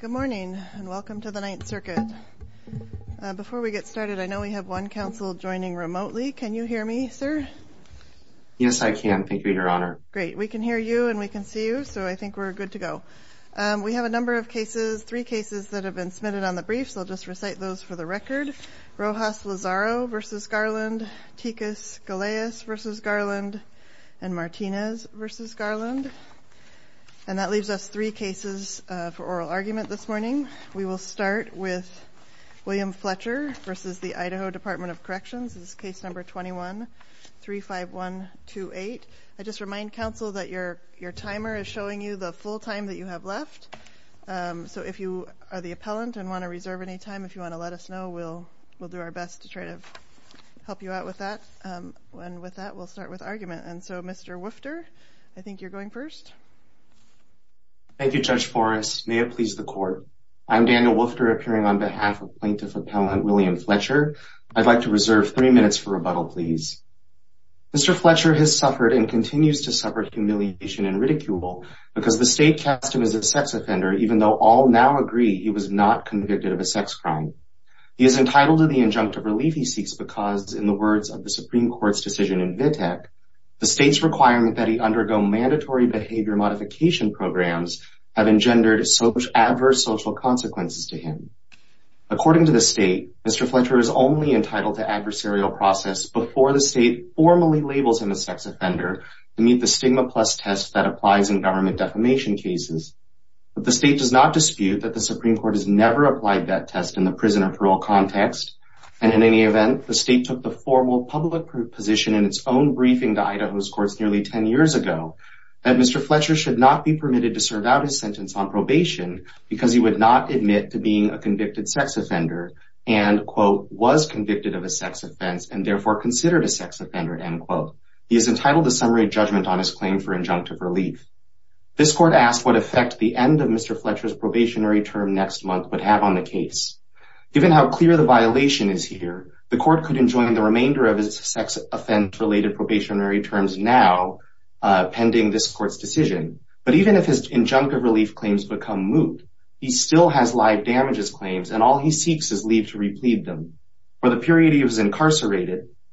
Good morning and welcome to the Ninth Circuit. Before we get started I know we have one counsel joining remotely. Can you hear me sir? Yes I can thank you your honor. Great we can hear you and we can see you so I think we're good to go. We have a number of cases, three cases that have been submitted on the brief so I'll just recite those for the record. Rojas Lozaro v. Garland, Tikus Galeas v. Garland and Martinez v. Garland and that leaves us three cases for oral argument this morning. We will start with William Fletcher v. the Idaho Department of Corrections. This is case number 21-35128. I just remind counsel that your your timer is showing you the full time that you have left so if you are the appellant and want to reserve any time if you want to let us know we'll we'll do our best to try to help you out with that and with that we'll start with argument and so Mr. Woofter I think you're going first. Thank you Judge Forrest may it please the court. I'm Daniel Woofter appearing on behalf of Plaintiff Appellant William Fletcher. I'd like to reserve three minutes for rebuttal please. Mr. Fletcher has suffered and continues to suffer humiliation and ridicule because the state cast him as a sex offender even though all now agree he was not convicted of a sex crime. He is entitled to the injunctive relief he seeks because in the words of the Supreme Court's decision in Vitek the state's requirement that he undergo mandatory behavior modification programs have engendered adverse social consequences to him. According to the state Mr. Fletcher is only entitled to adversarial process before the state formally labels him a sex offender to meet the stigma test that applies in government defamation cases. But the state does not dispute that the Supreme Court has never applied that test in the prison or parole context and in any event the state took the formal public position in its own briefing to Idaho's courts nearly ten years ago that Mr. Fletcher should not be permitted to serve out his sentence on probation because he would not admit to being a convicted sex offender and quote was convicted of a sex offense and therefore considered a sex offender and quote he is entitled to summary judgment on his claim for injunctive relief. This court asked what effect the end of Mr. Fletcher's probationary term next month would have on the case. Given how clear the violation is here the court could enjoin the remainder of his sex offense related probationary terms now pending this court's decision but even if his injunctive relief claims become moot he still has live damages claims and all he seeks is leave to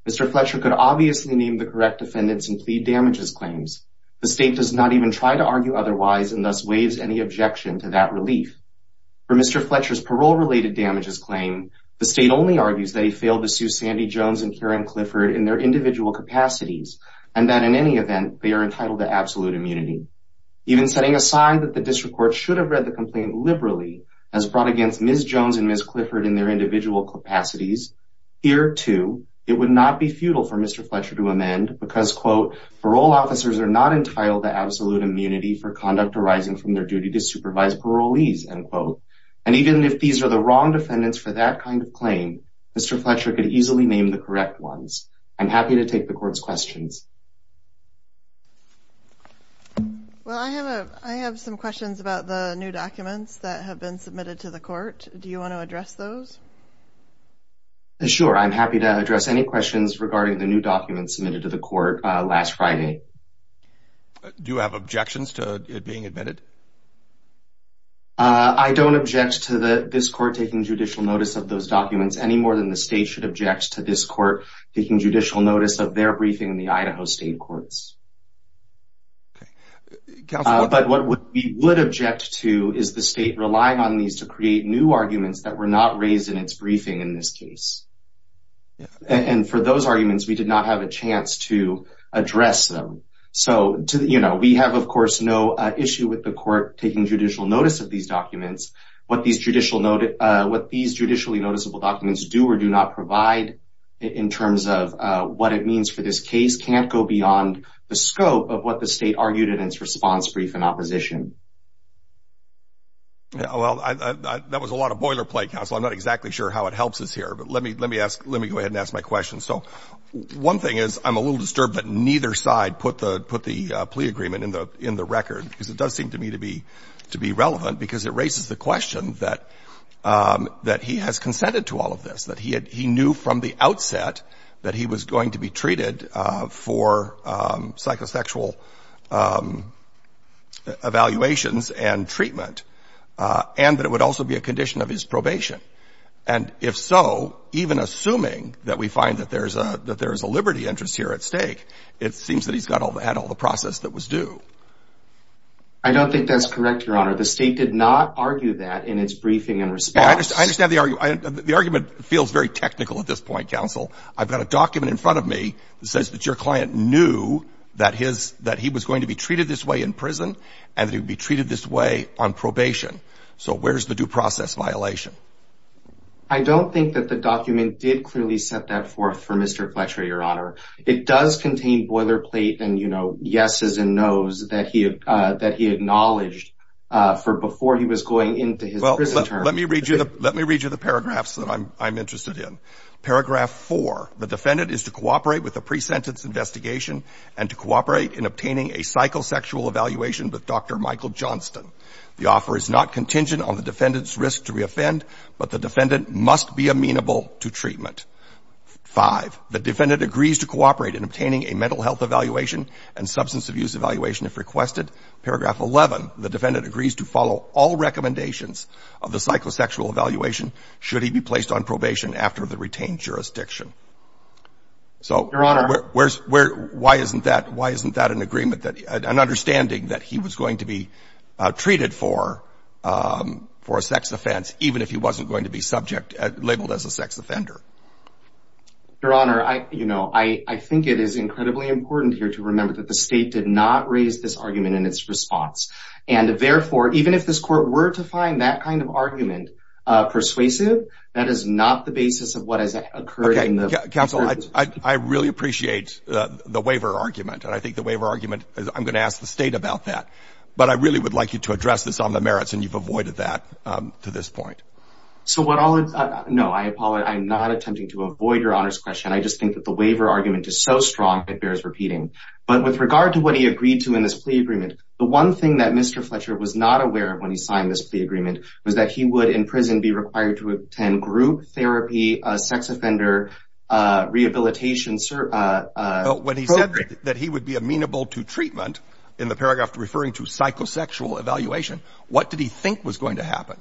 Mr. Fletcher could obviously name the correct defendants and plead damages claims the state does not even try to argue otherwise and thus waives any objection to that relief. For Mr. Fletcher's parole related damages claim the state only argues that he failed to sue Sandy Jones and Karen Clifford in their individual capacities and that in any event they are entitled to absolute immunity. Even setting a sign that the district court should have read the complaint liberally as brought against Ms. Jones and Ms. Clifford in their individual capacities here too it would not be futile for Mr. Fletcher to amend because quote parole officers are not entitled to absolute immunity for conduct arising from their duty to supervise parolees and quote and even if these are the wrong defendants for that kind of claim Mr. Fletcher could easily name the correct ones. I'm happy to take the court's questions. Well I have some questions about the new documents that have been submitted to the court. Sure I'm happy to address any questions regarding the new documents submitted to the court last Friday. Do you have objections to it being admitted? I don't object to the this court taking judicial notice of those documents any more than the state should object to this court taking judicial notice of their briefing in the Idaho State Courts. But what we would object to is the state relying on these to create new arguments that were not raised in its briefing in this case. And for those arguments we did not have a chance to address them. So you know we have of course no issue with the court taking judicial notice of these documents. What these judicially noticeable documents do or do not provide in terms of what it means for this case can't go beyond the scope of what the state argued in its response brief in opposition. Yeah well that was a lot of boilerplate counsel. I'm not exactly sure how it helps us here. But let me let me ask let me go ahead and ask my question. So one thing is I'm a little disturbed that neither side put the put the plea agreement in the in the record because it does seem to me to be to be relevant because it raises the question that that he has consented to all of this that he had he knew from the outset that he was going to be treated for psychosexual evaluations and treatment and that it would also be a condition of his probation. And if so even assuming that we find that there's a that there is a liberty interest here at stake it seems that he's got all that all the process that was due. I don't think that's correct your honor the state did not argue that in its briefing and response. I understand the argument feels very technical at this point counsel. I've got a document in front of me that says that your client knew that his that he was going to be treated this way in prison and he would be treated this way on probation. So where's the due process violation? I don't think that the document did clearly set that forth for Mr. Fletcher your honor. It does contain boilerplate and you know yeses and noes that he that he acknowledged for before he was going into his prison. Let me read you the let me read you the paragraphs that I'm I'm interested in. Paragraph four the defendant is to cooperate with the obtaining a psychosexual evaluation with Dr. Michael Johnston. The offer is not contingent on the defendant's risk to reoffend but the defendant must be amenable to treatment. Five the defendant agrees to cooperate in obtaining a mental health evaluation and substance abuse evaluation if requested. Paragraph 11 the defendant agrees to follow all recommendations of the psychosexual evaluation should he be placed on probation after the retained jurisdiction. So your honor where's where why isn't that why isn't that an agreement that an understanding that he was going to be treated for um for a sex offense even if he wasn't going to be subject labeled as a sex offender? Your honor I you know I I think it is incredibly important here to remember that the state did not raise this argument in its response and therefore even if this court were to find that kind of argument uh persuasive that is not the basis of what has occurred in the council. I I really appreciate uh the waiver argument and I think the waiver argument is I'm going to ask the state about that but I really would like you to address this on the merits and you've avoided that um to this point. So what all no I apologize I'm not attempting to avoid your honor's question I just think that the waiver argument is so strong it bears repeating but with regard to what he agreed to in this plea agreement the one thing that Mr. Fletcher was not aware of when he signed this plea agreement was that he would in prison be required to attend group therapy uh sex offender uh rehabilitation uh uh when he said that he would be amenable to treatment in the paragraph referring to psychosexual evaluation what did he think was going to happen?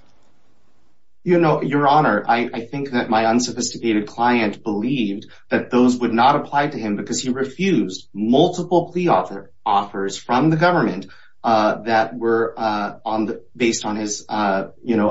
You know your honor I think that my unsophisticated client believed that those would not apply to him because he refused multiple plea offer offers from the government uh that were uh on the based on his uh you know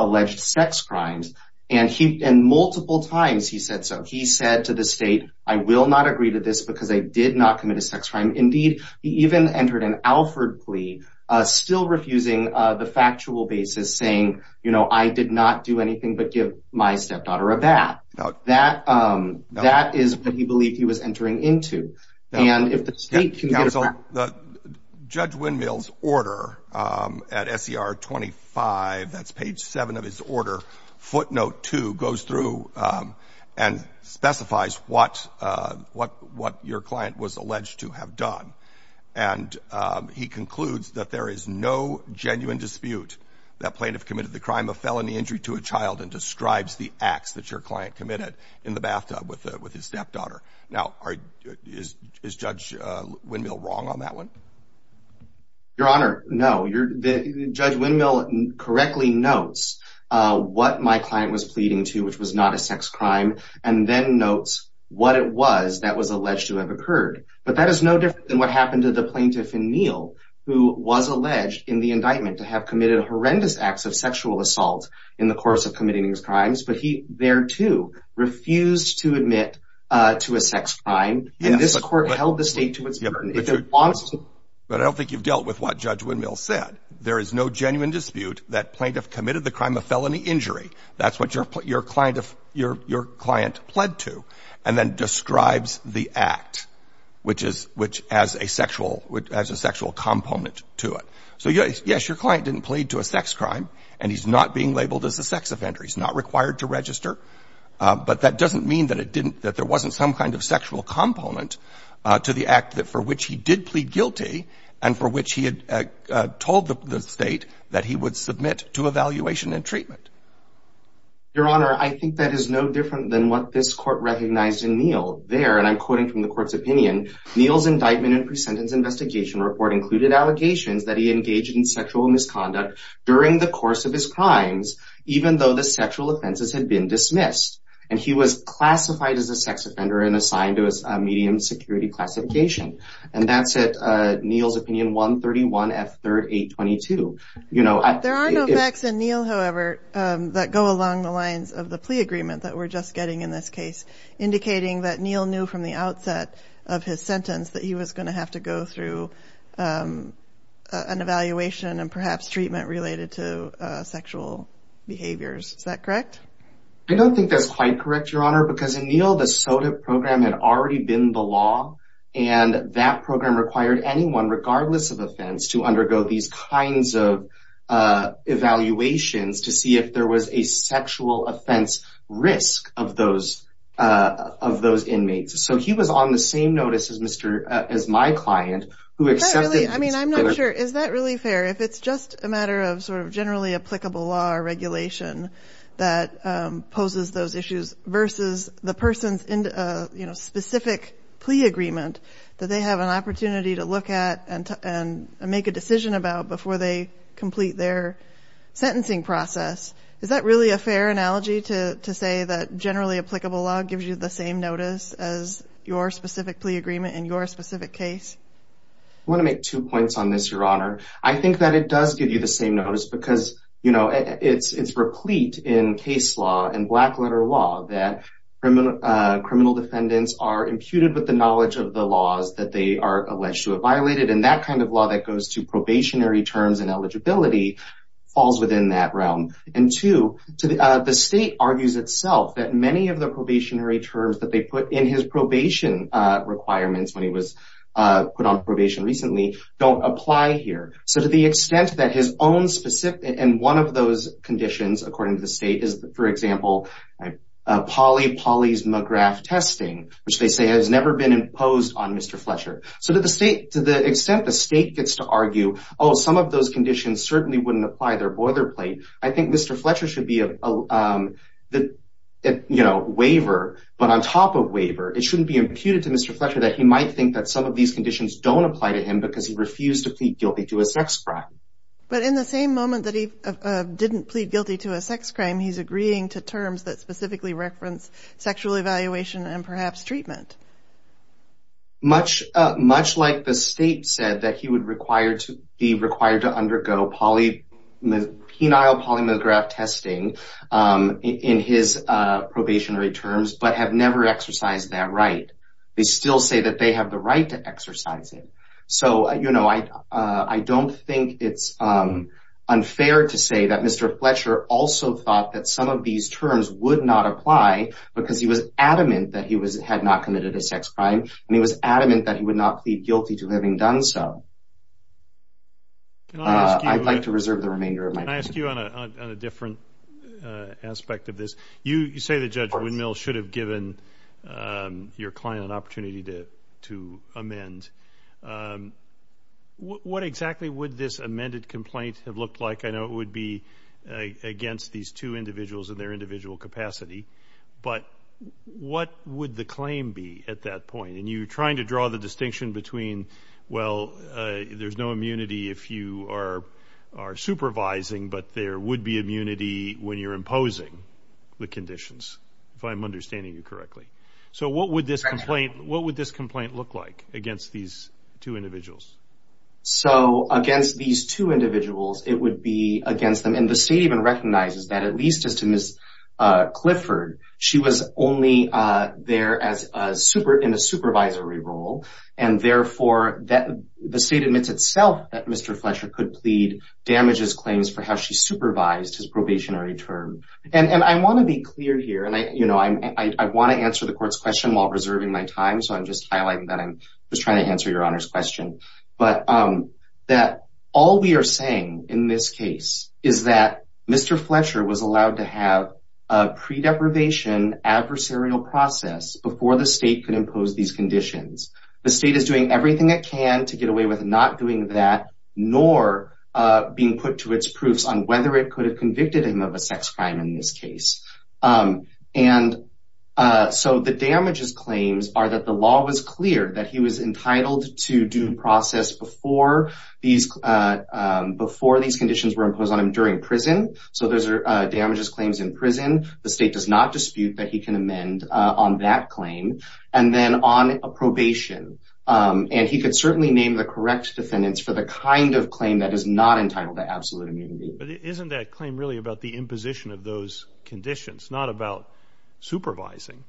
I will not agree to this because I did not commit a sex crime indeed he even entered an Alfred plea uh still refusing uh the factual basis saying you know I did not do anything but give my stepdaughter a bath that um that is what he believed he was entering into and if the state judge windmills order um at ser 25 that's page 7 of his order footnote 2 goes through um and specifies what uh what what your client was alleged to have done and um he concludes that there is no genuine dispute that plaintiff committed the crime of felony injury to a child and describes the acts that your client committed in the bathtub with with his stepdaughter now is judge uh windmill wrong on that one? Your honor no you're the judge windmill correctly notes uh what my client was pleading to which was not a sex crime and then notes what it was that was alleged to have occurred but that is no different than what happened to the plaintiff in meal who was alleged in the indictment to have committed horrendous acts of sexual assault in the course of committing these crimes but he thereto refused to admit uh to a sex crime and this court held the state to its burden but I don't think you've dealt with what judge a felony injury that's what your client of your your client pled to and then describes the act which is which as a sexual which has a sexual component to it so yes yes your client didn't plead to a sex crime and he's not being labeled as a sex offender he's not required to register but that doesn't mean that it didn't that there wasn't some kind of sexual component to the act that for which he did plead guilty and for which he had told the state that he would submit to evaluation and treatment your honor I think that is no different than what this court recognized in Neil there and I'm quoting from the court's opinion Neil's indictment and pre-sentence investigation report included allegations that he engaged in sexual misconduct during the course of his crimes even though the sexual offenses had been dismissed and he was classified as a sex offender and assigned to a medium security classification and that's it Neil's opinion 131 at 38 22 you know there are no facts in Neil however that go along the lines of the plea agreement that we're just getting in this case indicating that Neil knew from the outset of his sentence that he was going to have to go through an evaluation and perhaps treatment related to sexual behaviors is that correct I don't think that's quite correct your honor because in Neil the soda program had already been the law and that program required anyone regardless of offense to undergo these kinds of evaluations to see if there was a sexual offense risk of those of those inmates so he was on the same notice as mr as my client who accepted I mean I'm not sure is that really fair if it's just a versus the person's into a you know specific plea agreement that they have an opportunity to look at and and make a decision about before they complete their sentencing process is that really a fair analogy to to say that generally applicable law gives you the same notice as your specific plea agreement in your specific case I want to make two points on this your honor I think that it does give the same notice because you know it's it's replete in case law and black letter law that criminal uh criminal defendants are imputed with the knowledge of the laws that they are alleged to have violated and that kind of law that goes to probationary terms and eligibility falls within that realm and to to the state argues itself that many of the probationary terms that they put in his probation uh requirements when he was uh put on probation recently don't apply here so to the extent that his own specific and one of those conditions according to the state is for example poly poly's mcgrath testing which they say has never been imposed on mr fletcher so that the state to the extent the state gets to argue oh some of those conditions certainly wouldn't apply their boilerplate I think mr fletcher should be a um the you know waiver but on top of waiver it shouldn't be imputed to mr fletcher that he might think that some of these conditions don't apply to him because he refused to plead guilty to a sex crime but in the same moment that he uh didn't plead guilty to a sex crime he's agreeing to terms that specifically reference sexual evaluation and perhaps treatment much uh much like the state said that he would require to be required to undergo poly penile polymorphic testing um in his uh probationary terms but have never exercised that right they still say that they have the right to exercise it so you know I uh I don't think it's um unfair to say that mr fletcher also thought that some of these terms would not apply because he was adamant that he was had not committed a sex crime and he was adamant that he would not plead guilty to having done so uh i'd like to reserve the remainder of my ask you on a different uh aspect of this you you say that judge windmill should have given um your client an opportunity to to amend um what exactly would this amended complaint have looked like i know it would be against these two individuals in their individual capacity but what would the claim be at that point and you're trying to draw the distinction between well uh there's no immunity if you are are supervising but there would be immunity when you're imposing the conditions if i'm understanding you correctly so what would this complaint what would this complaint look like against these two individuals so against these two individuals it would be against them and the state even recognizes that at least as to miss uh clifford she was only uh there as a super in a could plead damages claims for how she supervised his probationary term and and i want to be clear here and i you know i'm i want to answer the court's question while reserving my time so i'm just highlighting that i'm just trying to answer your honor's question but um that all we are saying in this case is that mr fletcher was allowed to have a pre-deprivation adversarial process before the state could impose these conditions the state is doing everything it can to get away with not doing that nor uh being put to its proofs on whether it could have convicted him of a sex crime in this case um and uh so the damages claims are that the law was cleared that he was entitled to due process before these uh before these conditions were imposed on him during prison so those are uh damages claims in prison the state does not dispute that he can amend on that claim and then on a probation um and he could certainly name the correct defendants for the kind of claim that is not entitled to absolute immunity but isn't that claim really about the imposition of those conditions not about supervising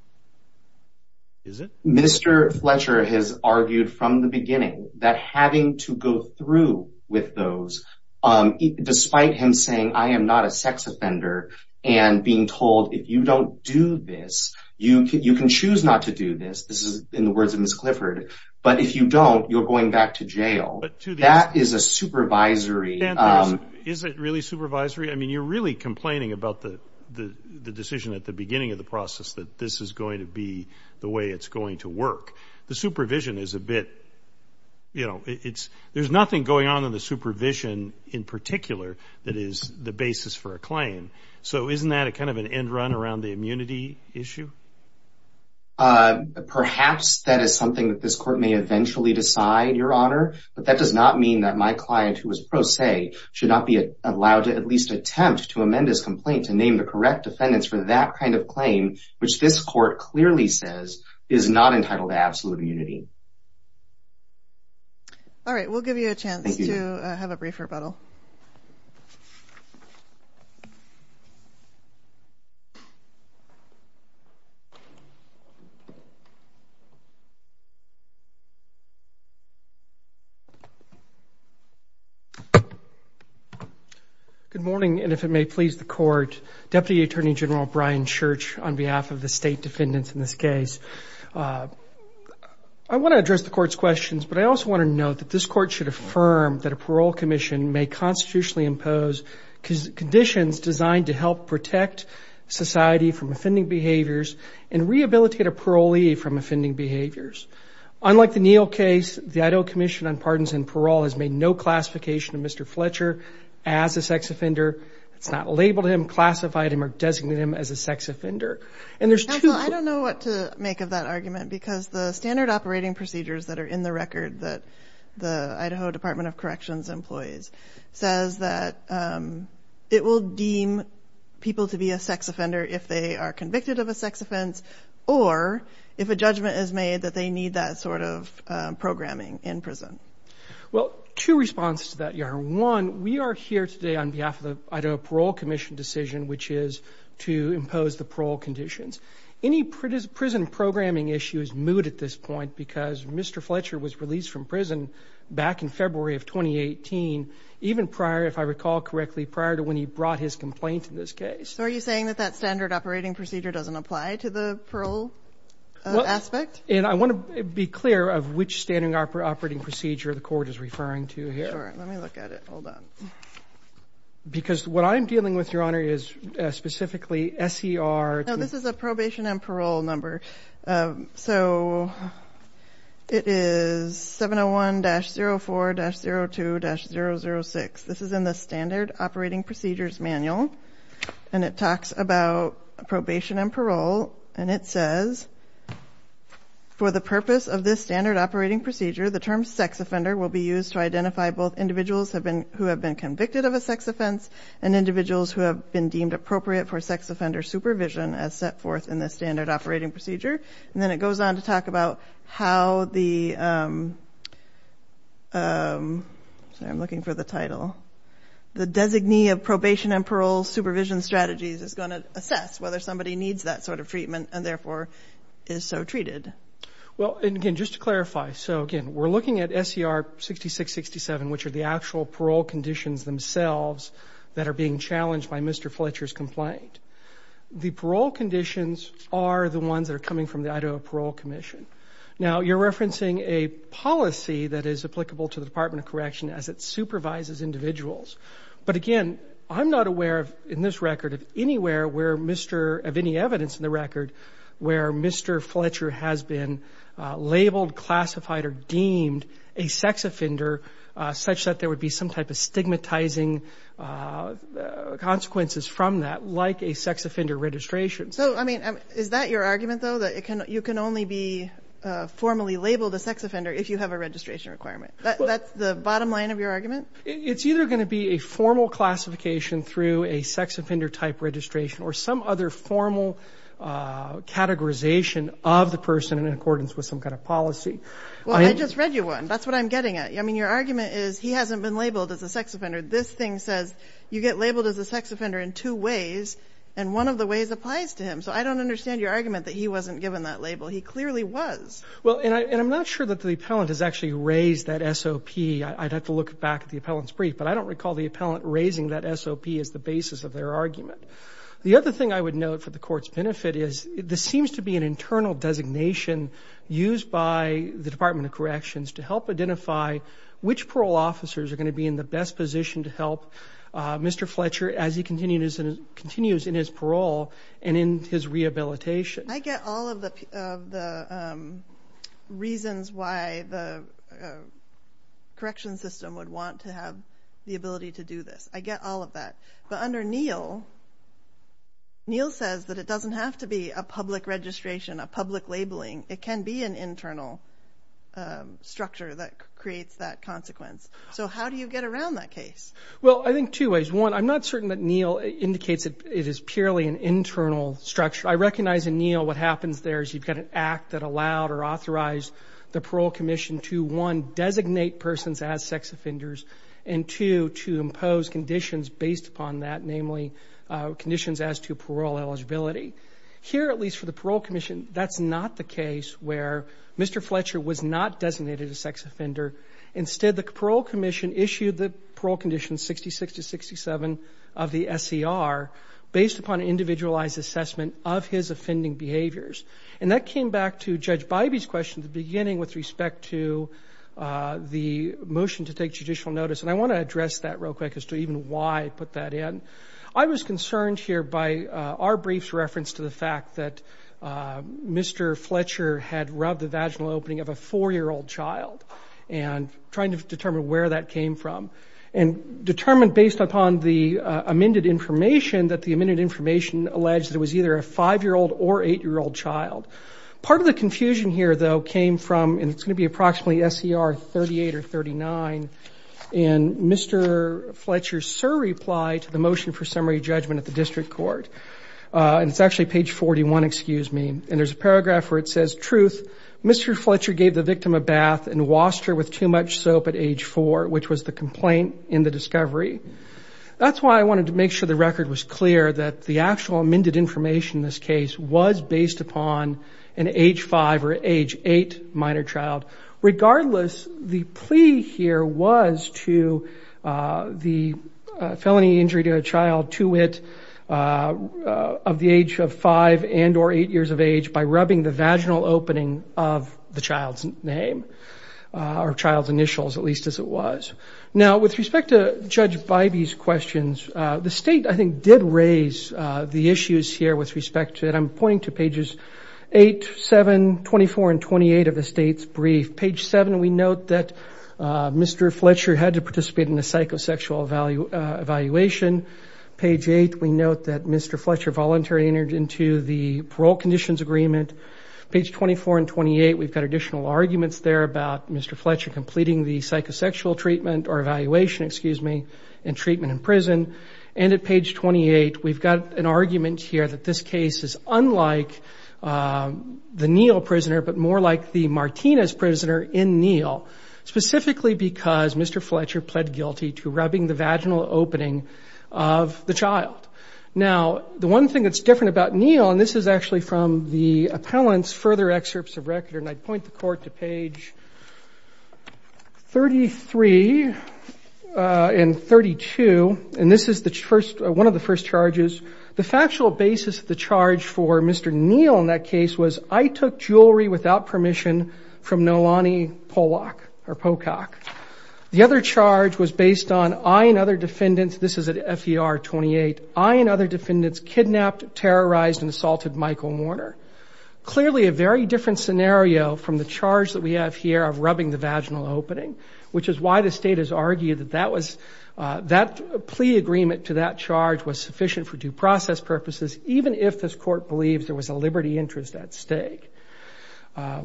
is it mr fletcher has argued from the beginning that having to go through with those um despite him saying i am not a sex offender and being told if you don't do this you you can choose not to do this this is in the words of miss clifford but if you don't you're going back to jail that is a supervisory um is it really supervisory i mean you're really complaining about the the the decision at the beginning of the process that this is going to be the way it's going to work the supervision is a bit you know it's there's nothing going on in the supervision in particular that is the basis for a claim so isn't that a kind of an end run around the immunity issue uh perhaps that is something that this court may eventually decide your honor but that does not mean that my client who was pro se should not be allowed to at least attempt to amend his complaint to name the correct defendants for that kind of claim which this court clearly says is not entitled to so good morning and if it may please the court deputy attorney general brian church on behalf of the state defendants in this case i want to address the court's questions but i also want to note that this court should affirm that a parole commission may constitutionally impose conditions designed to help protect society from offending behaviors and rehabilitate a parolee from offending behaviors unlike the neil case the idaho commission on pardons and parole has made no classification of mr fletcher as a sex offender it's not labeled him classified him or designated him as a sex offender and there's two i don't know what to make of that argument because the standard operating procedures that are in the record that the idaho department of corrections employees says that it will deem people to be a sex offender if they are convicted of a sex offense or if a judgment is made that they need that sort of programming in prison well two responses to that you're one we are here today on behalf of the idaho parole commission decision which is to impose the parole conditions any prison programming issue is moot at this point because mr fletcher was released from prison back in february of 2018 even prior if i recall correctly prior to when he brought his complaint in this case so are you saying that that standard operating procedure doesn't apply to the parole aspect and i want to be clear of which standard operating procedure the court is referring to here let me look at it hold on because what i'm dealing with specifically ser now this is a probation and parole number so it is 701-04-02-006 this is in the standard operating procedures manual and it talks about probation and parole and it says for the purpose of this standard operating procedure the term sex offender will be used to identify both individuals have been who have been convicted of a sex offense and individuals who have been deemed appropriate for sex offender supervision as set forth in the standard operating procedure and then it goes on to talk about how the um um sorry i'm looking for the title the designee of probation and parole supervision strategies is going to assess whether somebody needs that sort of treatment and therefore is so treated well and again just to clarify so again we're looking at ser 66 67 which are the actual parole conditions themselves that are being challenged by mr fletcher's complaint the parole conditions are the ones that are coming from the idaho parole commission now you're referencing a policy that is applicable to the department of correction as it supervises individuals but again i'm not aware of in this record of anywhere where mr of any evidence in the record where mr fletcher has been labeled classified or deemed a sex offender such that there would be some type of stigmatizing consequences from that like a sex offender registration so i mean is that your argument though that it can you can only be uh formally labeled a sex offender if you have a registration requirement that's the bottom line of your argument it's either going to be a formal classification through a sex offender type registration or some other formal uh categorization of the person in accordance with some kind of policy well i just read you one that's what i'm getting at i mean your argument is he hasn't been labeled as a sex offender this thing says you get labeled as a sex offender in two ways and one of the ways applies to him so i don't understand your argument that he wasn't given that label he clearly was well and i'm not sure that the appellant has actually raised that sop i'd have to look back at the appellant's brief but i don't recall the appellant raising that sop as the basis of their argument the other thing i would note for the court's benefit is this seems to be an internal designation used by the department of corrections to help identify which parole officers are going to be in the best position to help uh mr fletcher as he continues and continues in his parole and in his rehabilitation i get all of the of the reasons why the correction system would want to have the ability to do this i get all of that but under neil neil says that it doesn't have to be a public registration a public labeling it can be an internal structure that creates that consequence so how do you get around that case well i think two ways one i'm not certain that neil indicates that it is purely an internal structure i recognize in neil what happens there is you've got an act that allowed or authorized the parole commission to one designate persons as sex offenders and two to impose conditions based upon that namely uh conditions as to parole eligibility here at least for the parole commission that's not the case where mr fletcher was not designated a sex offender instead the parole commission issued the parole condition 66 to 67 of the ser based upon an individualized assessment of his offending behaviors and that came back to judge bybee's question at the beginning with respect to uh the motion to take judicial notice and i want to address that real quick as to even why i put that in i was concerned here by uh our briefs reference to the fact that uh mr fletcher had rubbed the vaginal opening of a four-year-old child and trying to determine where that came from and determined based upon the amended information that the amended information alleged it was either a five-year-old or eight-year-old child part of the confusion here though came from and it's going to be approximately ser 38 or 39 and mr fletcher's reply to the motion for summary judgment at the district court uh and it's actually page 41 excuse me and there's a paragraph where it says truth mr fletcher gave the victim a bath and washed her with too much soap at age four which was the complaint in the discovery that's why i wanted to make sure the record was clear that the actual amended information in this case was based upon an age five or age eight minor child regardless the plea here was to the felony injury to a child to it uh of the age of five and or eight years of age by rubbing the vaginal opening of the child's name or child's initials at least as it was now with respect to judge by these questions uh the state i think did raise uh the issues here with respect to it i'm pointing to pages 8 7 24 and 28 of the state's brief page 7 we note that uh mr fletcher had to participate in the psychosexual value uh evaluation page 8 we note that mr fletcher voluntarily entered into the parole conditions agreement page 24 and 28 we've got additional arguments there about mr fletcher completing the psychosexual treatment or evaluation excuse me and treatment in prison and at page 28 we've got an argument here that this case is unlike the neil prisoner but more like the martinez prisoner in neil specifically because mr fletcher pled guilty to rubbing the vaginal opening of the child now the one thing that's different about neil and this is actually from the appellant's further excerpts of record and i'd point the court to page 33 and 32 and this is the first one of the first charges the factual basis of the charge for mr neil in that case was i took jewelry without permission from nolani pollock or pocock the other charge was based on i and other defendants this is at fer 28 i and other defendants kidnapped terrorized and assaulted michael warner clearly a very different scenario from the charge that we have here of rubbing the vaginal opening which is why the state has argued that that was that plea agreement to that charge was sufficient for due process purposes even if this court believes there was a liberty interest at stake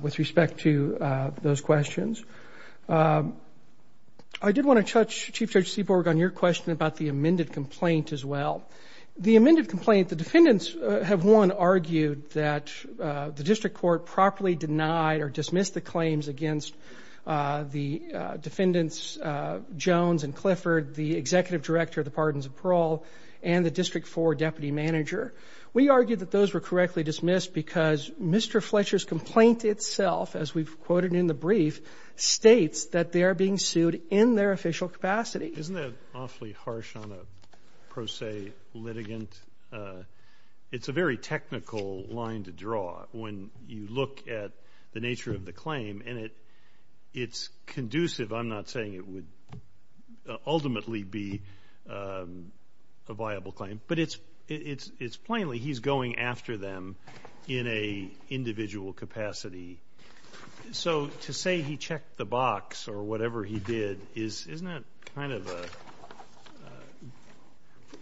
with respect to those questions i did want to touch chief judge seaborg on your question about the amended complaint as well the amended complaint the defendants have won argued that the district court properly denied or dismissed the claims against uh the defendants uh jones and clifford the executive director of the pardons of parole and the district for deputy manager we argued that those were correctly dismissed because mr fletcher's complaint itself as we've quoted in the brief states that they are being sued in their official capacity isn't that awfully harsh on a pro se litigant uh it's a very technical line to draw when you look at the nature of the claim and it it's conducive i'm not saying it would ultimately be um a viable claim but it's it's it's plainly he's going after them in a individual capacity so to say he checked the box or whatever he did is isn't that kind of a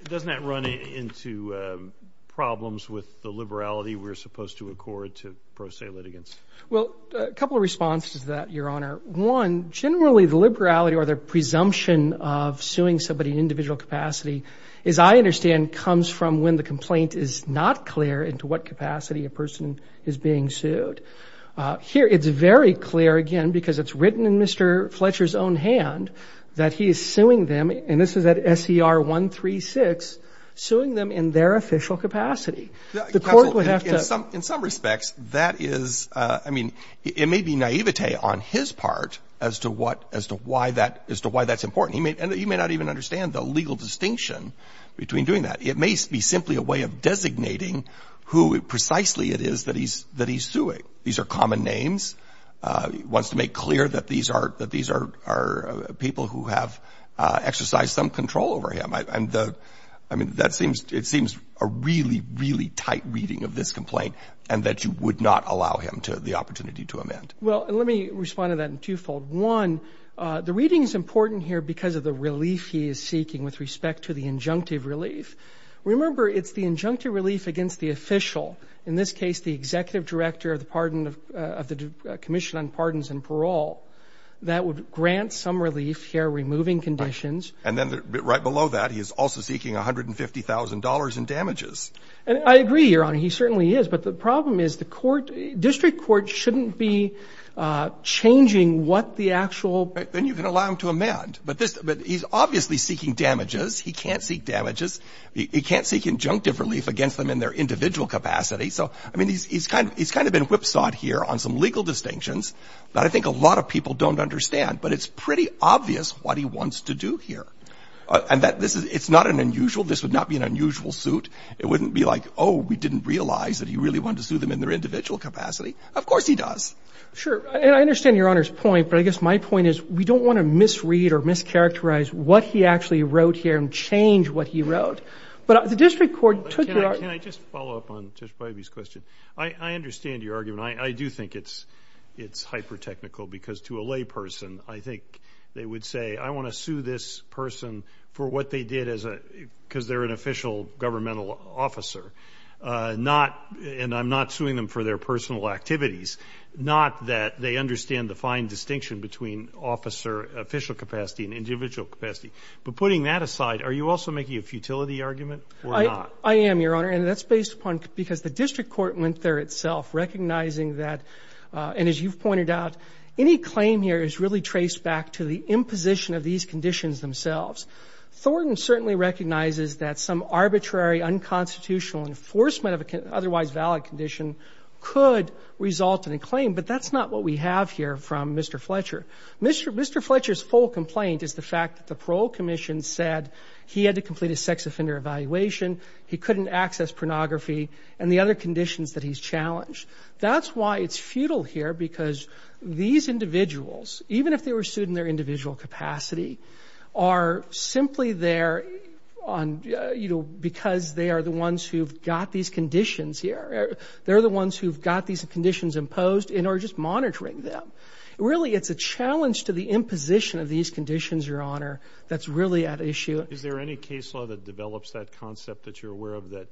it doesn't that run into problems with the liberality we're supposed to accord to pro se litigants well a couple of responses to that your honor one generally the liberality or their presumption of suing somebody in individual capacity as i understand comes from when the complaint is not clear into what capacity a person is being sued uh here it's very clear again because it's written in mr fletcher's own hand that he is suing them and this is at ser 136 suing them in their official capacity the court would have to some in some respects that is uh i mean it may be naivete on his part as to what as to why that is to why that's important he may and he may not even understand the legal distinction between doing that it may be simply a way of designating who precisely it is that he's that he's suing these are common names uh he wants to make clear that these are that these are are people who have uh exercised some control over him and the i mean that seems it seems a really really tight reading of this complaint and that you would not allow him to the opportunity to amend well let me respond to that in twofold one uh the reading is important here because of the relief he is seeking with respect to the injunctive relief remember it's the injunctive relief against the official in this case the that would grant some relief here removing conditions and then right below that he is also seeking 150 000 in damages and i agree your honor he certainly is but the problem is the court district court shouldn't be uh changing what the actual then you can allow him to amend but this but he's obviously seeking damages he can't seek damages he can't seek injunctive relief against them in their individual capacity so i mean he's kind of he's kind of been whipsawed here on some a lot of people don't understand but it's pretty obvious what he wants to do here and that this is it's not an unusual this would not be an unusual suit it wouldn't be like oh we didn't realize that he really wanted to sue them in their individual capacity of course he does sure and i understand your honor's point but i guess my point is we don't want to misread or mischaracterize what he actually wrote here and change what he wrote but the district court took it can i just follow up on this question i i understand your argument i do think it's it's hyper technical because to a lay person i think they would say i want to sue this person for what they did as a because they're an official governmental officer uh not and i'm not suing them for their personal activities not that they understand the fine distinction between officer official capacity and individual capacity but putting that aside are you also making a futility argument i i am your honor that's based upon because the district court went there itself recognizing that uh and as you've pointed out any claim here is really traced back to the imposition of these conditions themselves thornton certainly recognizes that some arbitrary unconstitutional enforcement of a otherwise valid condition could result in a claim but that's not what we have here from mr fletcher mr mr fletcher's full complaint is the fact that the parole commission said he had to complete a sex offender evaluation he couldn't access pornography and the other conditions that he's challenged that's why it's futile here because these individuals even if they were sued in their individual capacity are simply there on you know because they are the ones who've got these conditions here they're the ones who've got these conditions imposed in or just monitoring them really it's a challenge to the imposition of these conditions your honor that's really at issue is there any case law that develops that concept that you're aware of that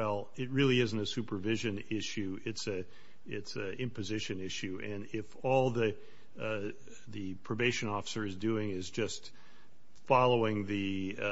well it really isn't a supervision issue it's a it's a imposition issue and if all the uh the probation officer is doing is just following the uh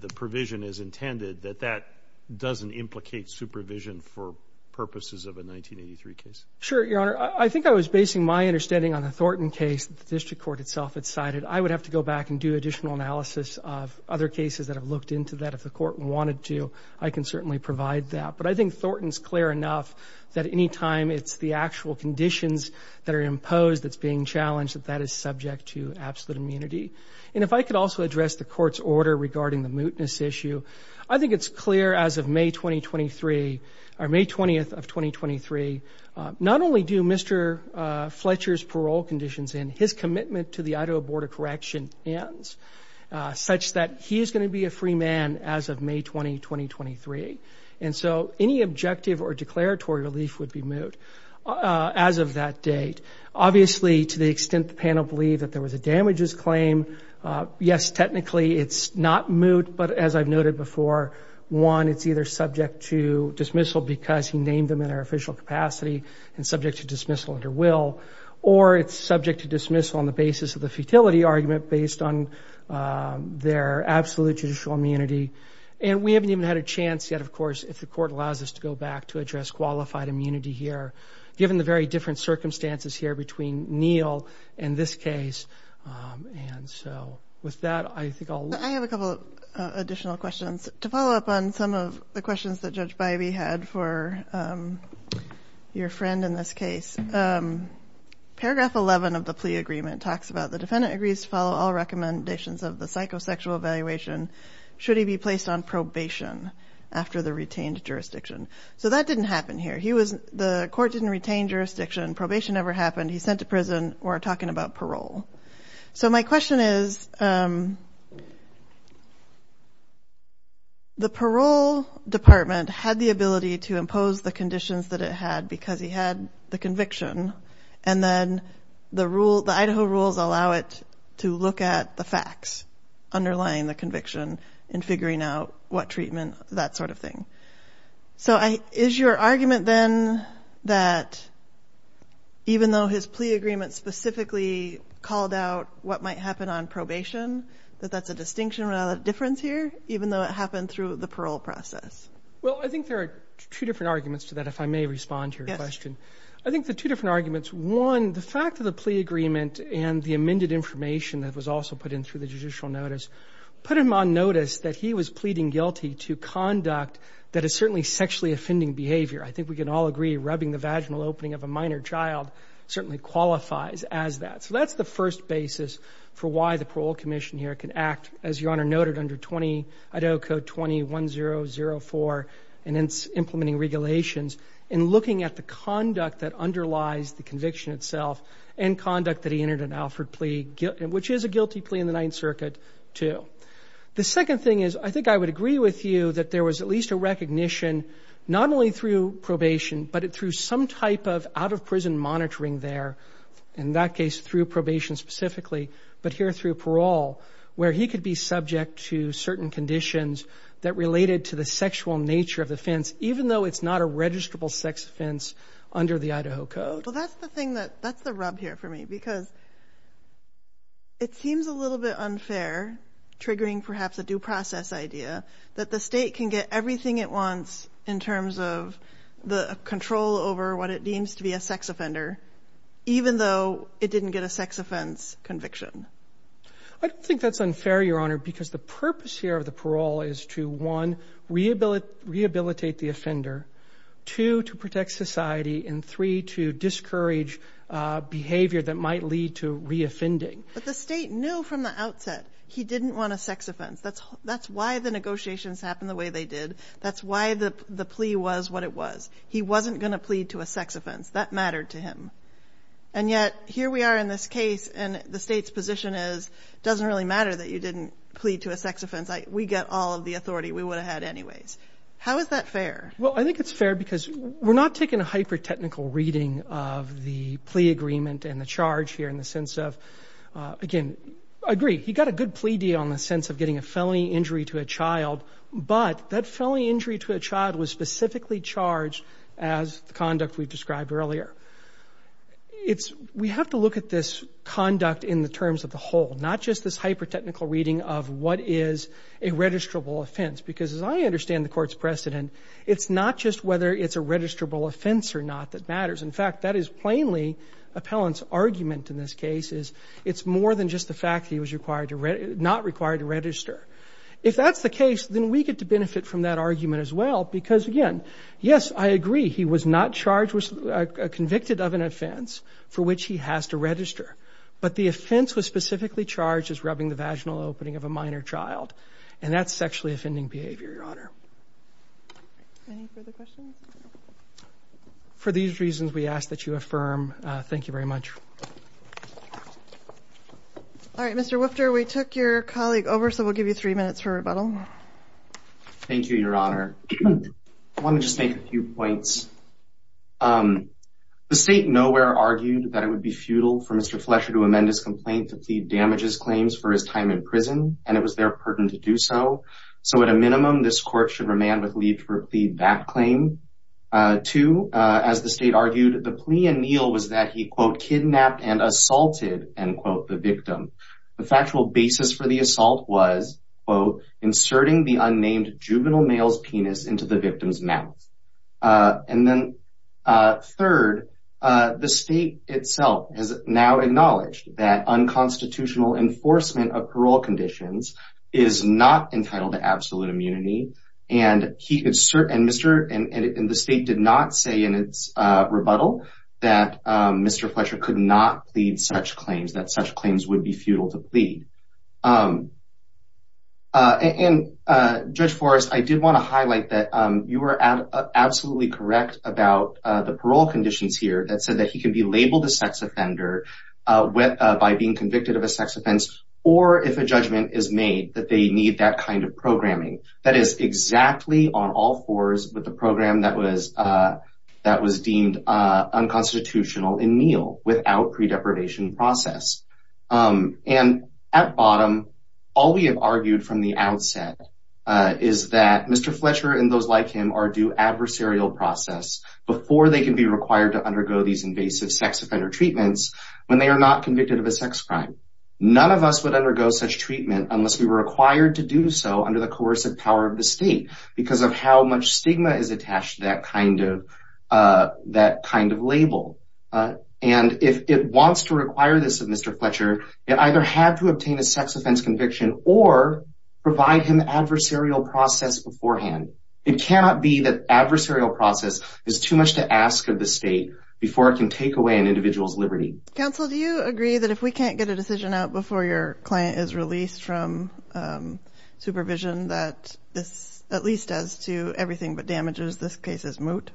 the provision as intended that that doesn't implicate supervision for purposes of a 1983 case sure your honor i think i was basing my understanding on a thornton case the district court itself had cited i would have to go back and do additional analysis of other cases that have looked into that if the court wanted to i can certainly provide that but i think thornton's clear enough that anytime it's the actual conditions that are imposed that's being challenged that that is subject to absolute immunity and if i could also address the court's order regarding the mootness issue i think it's clear as of may 2023 or may 20th of 2023 not only do mr uh fletcher's parole conditions in his commitment to the idaho border correction ends such that he is going to be a free man as of may 20 2023 and so any objective or declaratory relief would be moot uh as of that date obviously to the extent the panel believed that there was a damages claim uh yes technically it's not moot but as i've noted before one it's either subject to dismissal because he named them in our official capacity and subject to dismissal under will or it's subject to dismissal on the basis of the futility argument based on their absolute judicial immunity and we haven't even had a chance yet of course if the court allows us to go back to address qualified immunity here given the very different circumstances here between neil and this case and so with that i think i'll i have a couple additional questions to follow up on some of the questions that judge bybee had for your friend in this case paragraph 11 of the plea agreement talks about the defendant agrees to follow all recommendations of the psychosexual evaluation should he be placed on probation after the retained jurisdiction so that didn't happen here he was the court didn't retain jurisdiction probation never happened he's sent to prison or talking about parole so my question is the parole department had the ability to impose the conditions that it had because he had the conviction and then the rule the idaho rules allow it to look at the facts underlying the conviction in figuring out what treatment that sort of thing so i is your argument then that even though his plea agreement specifically called out what might happen on probation that that's a distinction without a difference here even though it happened through the parole process well i think there are two different arguments to that if i may respond to your question i think the two different arguments one the fact of the plea agreement and the amended information that was also put in through the judicial notice put him on notice that he was pleading guilty to conduct that is certainly sexually offending behavior i think we can all agree rubbing the vaginal opening of a minor child certainly qualifies as that so that's the first basis for why the parole commission here can act as your honor noted under 20 idaho code 21004 and it's implementing regulations and looking at the conduct that underlies the conviction itself and conduct that he entered an alfred plea which is a guilty plea in the ninth circuit too the second thing is i think i would agree with you that there was at least a recognition not only through probation but through some type of out of prison monitoring there in that case through probation specifically but here through parole where he could be subject to certain conditions that related to the sexual nature of the fence even though it's not a registrable sex offense under the idaho code well that's the thing that that's the rub here for me because it seems a little bit unfair triggering perhaps a due process idea that the state can get everything it wants in terms of the control over what it deems to be a sex offender even though it didn't get a sex offense conviction i don't think that's unfair your honor because the purpose here of the parole is to one rehabilitate the offender two to protect society and three to discourage uh behavior that might lead to reoffending but the state knew from the outset he didn't want a sex offense that's that's why the negotiations happened the way they did that's why the the plea was what it was he wasn't going to plead to a sex offense that mattered to and yet here we are in this case and the state's position is it doesn't really matter that you didn't plead to a sex offense we get all of the authority we would have had anyways how is that fair well i think it's fair because we're not taking a hyper technical reading of the plea agreement and the charge here in the sense of again i agree he got a good plea deal in the sense of getting a felony injury to a child but that felony injury to a child was specifically charged as the conduct we've described earlier it's we have to look at this conduct in the terms of the whole not just this hyper technical reading of what is a registrable offense because as i understand the court's precedent it's not just whether it's a registrable offense or not that matters in fact that is plainly appellant's argument in this case is it's more than just the fact that he was required to read not required to register if that's the case then we get to agree he was not charged with a convicted of an offense for which he has to register but the offense was specifically charged as rubbing the vaginal opening of a minor child and that's sexually offending behavior your honor any further questions for these reasons we ask that you affirm thank you very much all right mr woofter we took your colleague over so we'll give you three minutes rebuttal thank you your honor let me just make a few points um the state nowhere argued that it would be futile for mr flesher to amend his complaint to plead damages claims for his time in prison and it was their purtain to do so so at a minimum this court should remand with leave to repeat that claim uh to uh as the state argued the plea anneal was that he quote kidnapped and inserting the unnamed juvenile male's penis into the victim's mouth uh and then uh third uh the state itself has now acknowledged that unconstitutional enforcement of parole conditions is not entitled to absolute immunity and he insert and mr and and the state did not say in its uh rebuttal that um mr flesher could not plead such claims that such claims would be futile to plead um uh and uh judge forest i did want to highlight that um you were absolutely correct about uh the parole conditions here that said that he can be labeled a sex offender uh with uh by being convicted of a sex offense or if a judgment is made that they need that kind of programming that is exactly on all fours with the program that was uh that was deemed uh unconstitutional in meal without pre-deprivation process um and at bottom all we have argued from the outset is that mr flesher and those like him are due adversarial process before they can be required to undergo these invasive sex offender treatments when they are not convicted of a sex crime none of us would undergo such treatment unless we were required to do so under the coercive power of the because of how much stigma is attached to that kind of uh that kind of label uh and if it wants to require this of mr fletcher it either had to obtain a sex offense conviction or provide him adversarial process beforehand it cannot be that adversarial process is too much to ask of the state before it can take away an individual's liberty counsel do you agree that if we can't get a at least as to everything but damages this case is moot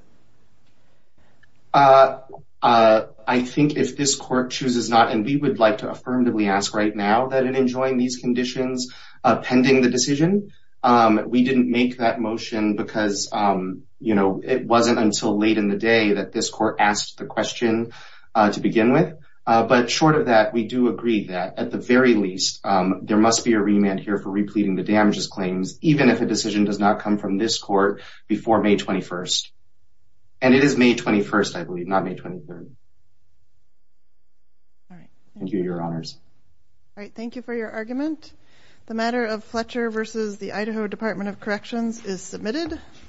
uh uh i think if this court chooses not and we would like to affirmatively ask right now that in enjoying these conditions uh pending the decision um we didn't make that motion because um you know it wasn't until late in the day that this court asked the question uh to begin with uh but short of that we do agree that at the very least there must be a remand here for repleting the damages claims even if a decision does not come from this court before may 21st and it is may 21st i believe not may 23rd all right thank you your honors all right thank you for your argument the matter of fletcher versus the idaho department of corrections is submitted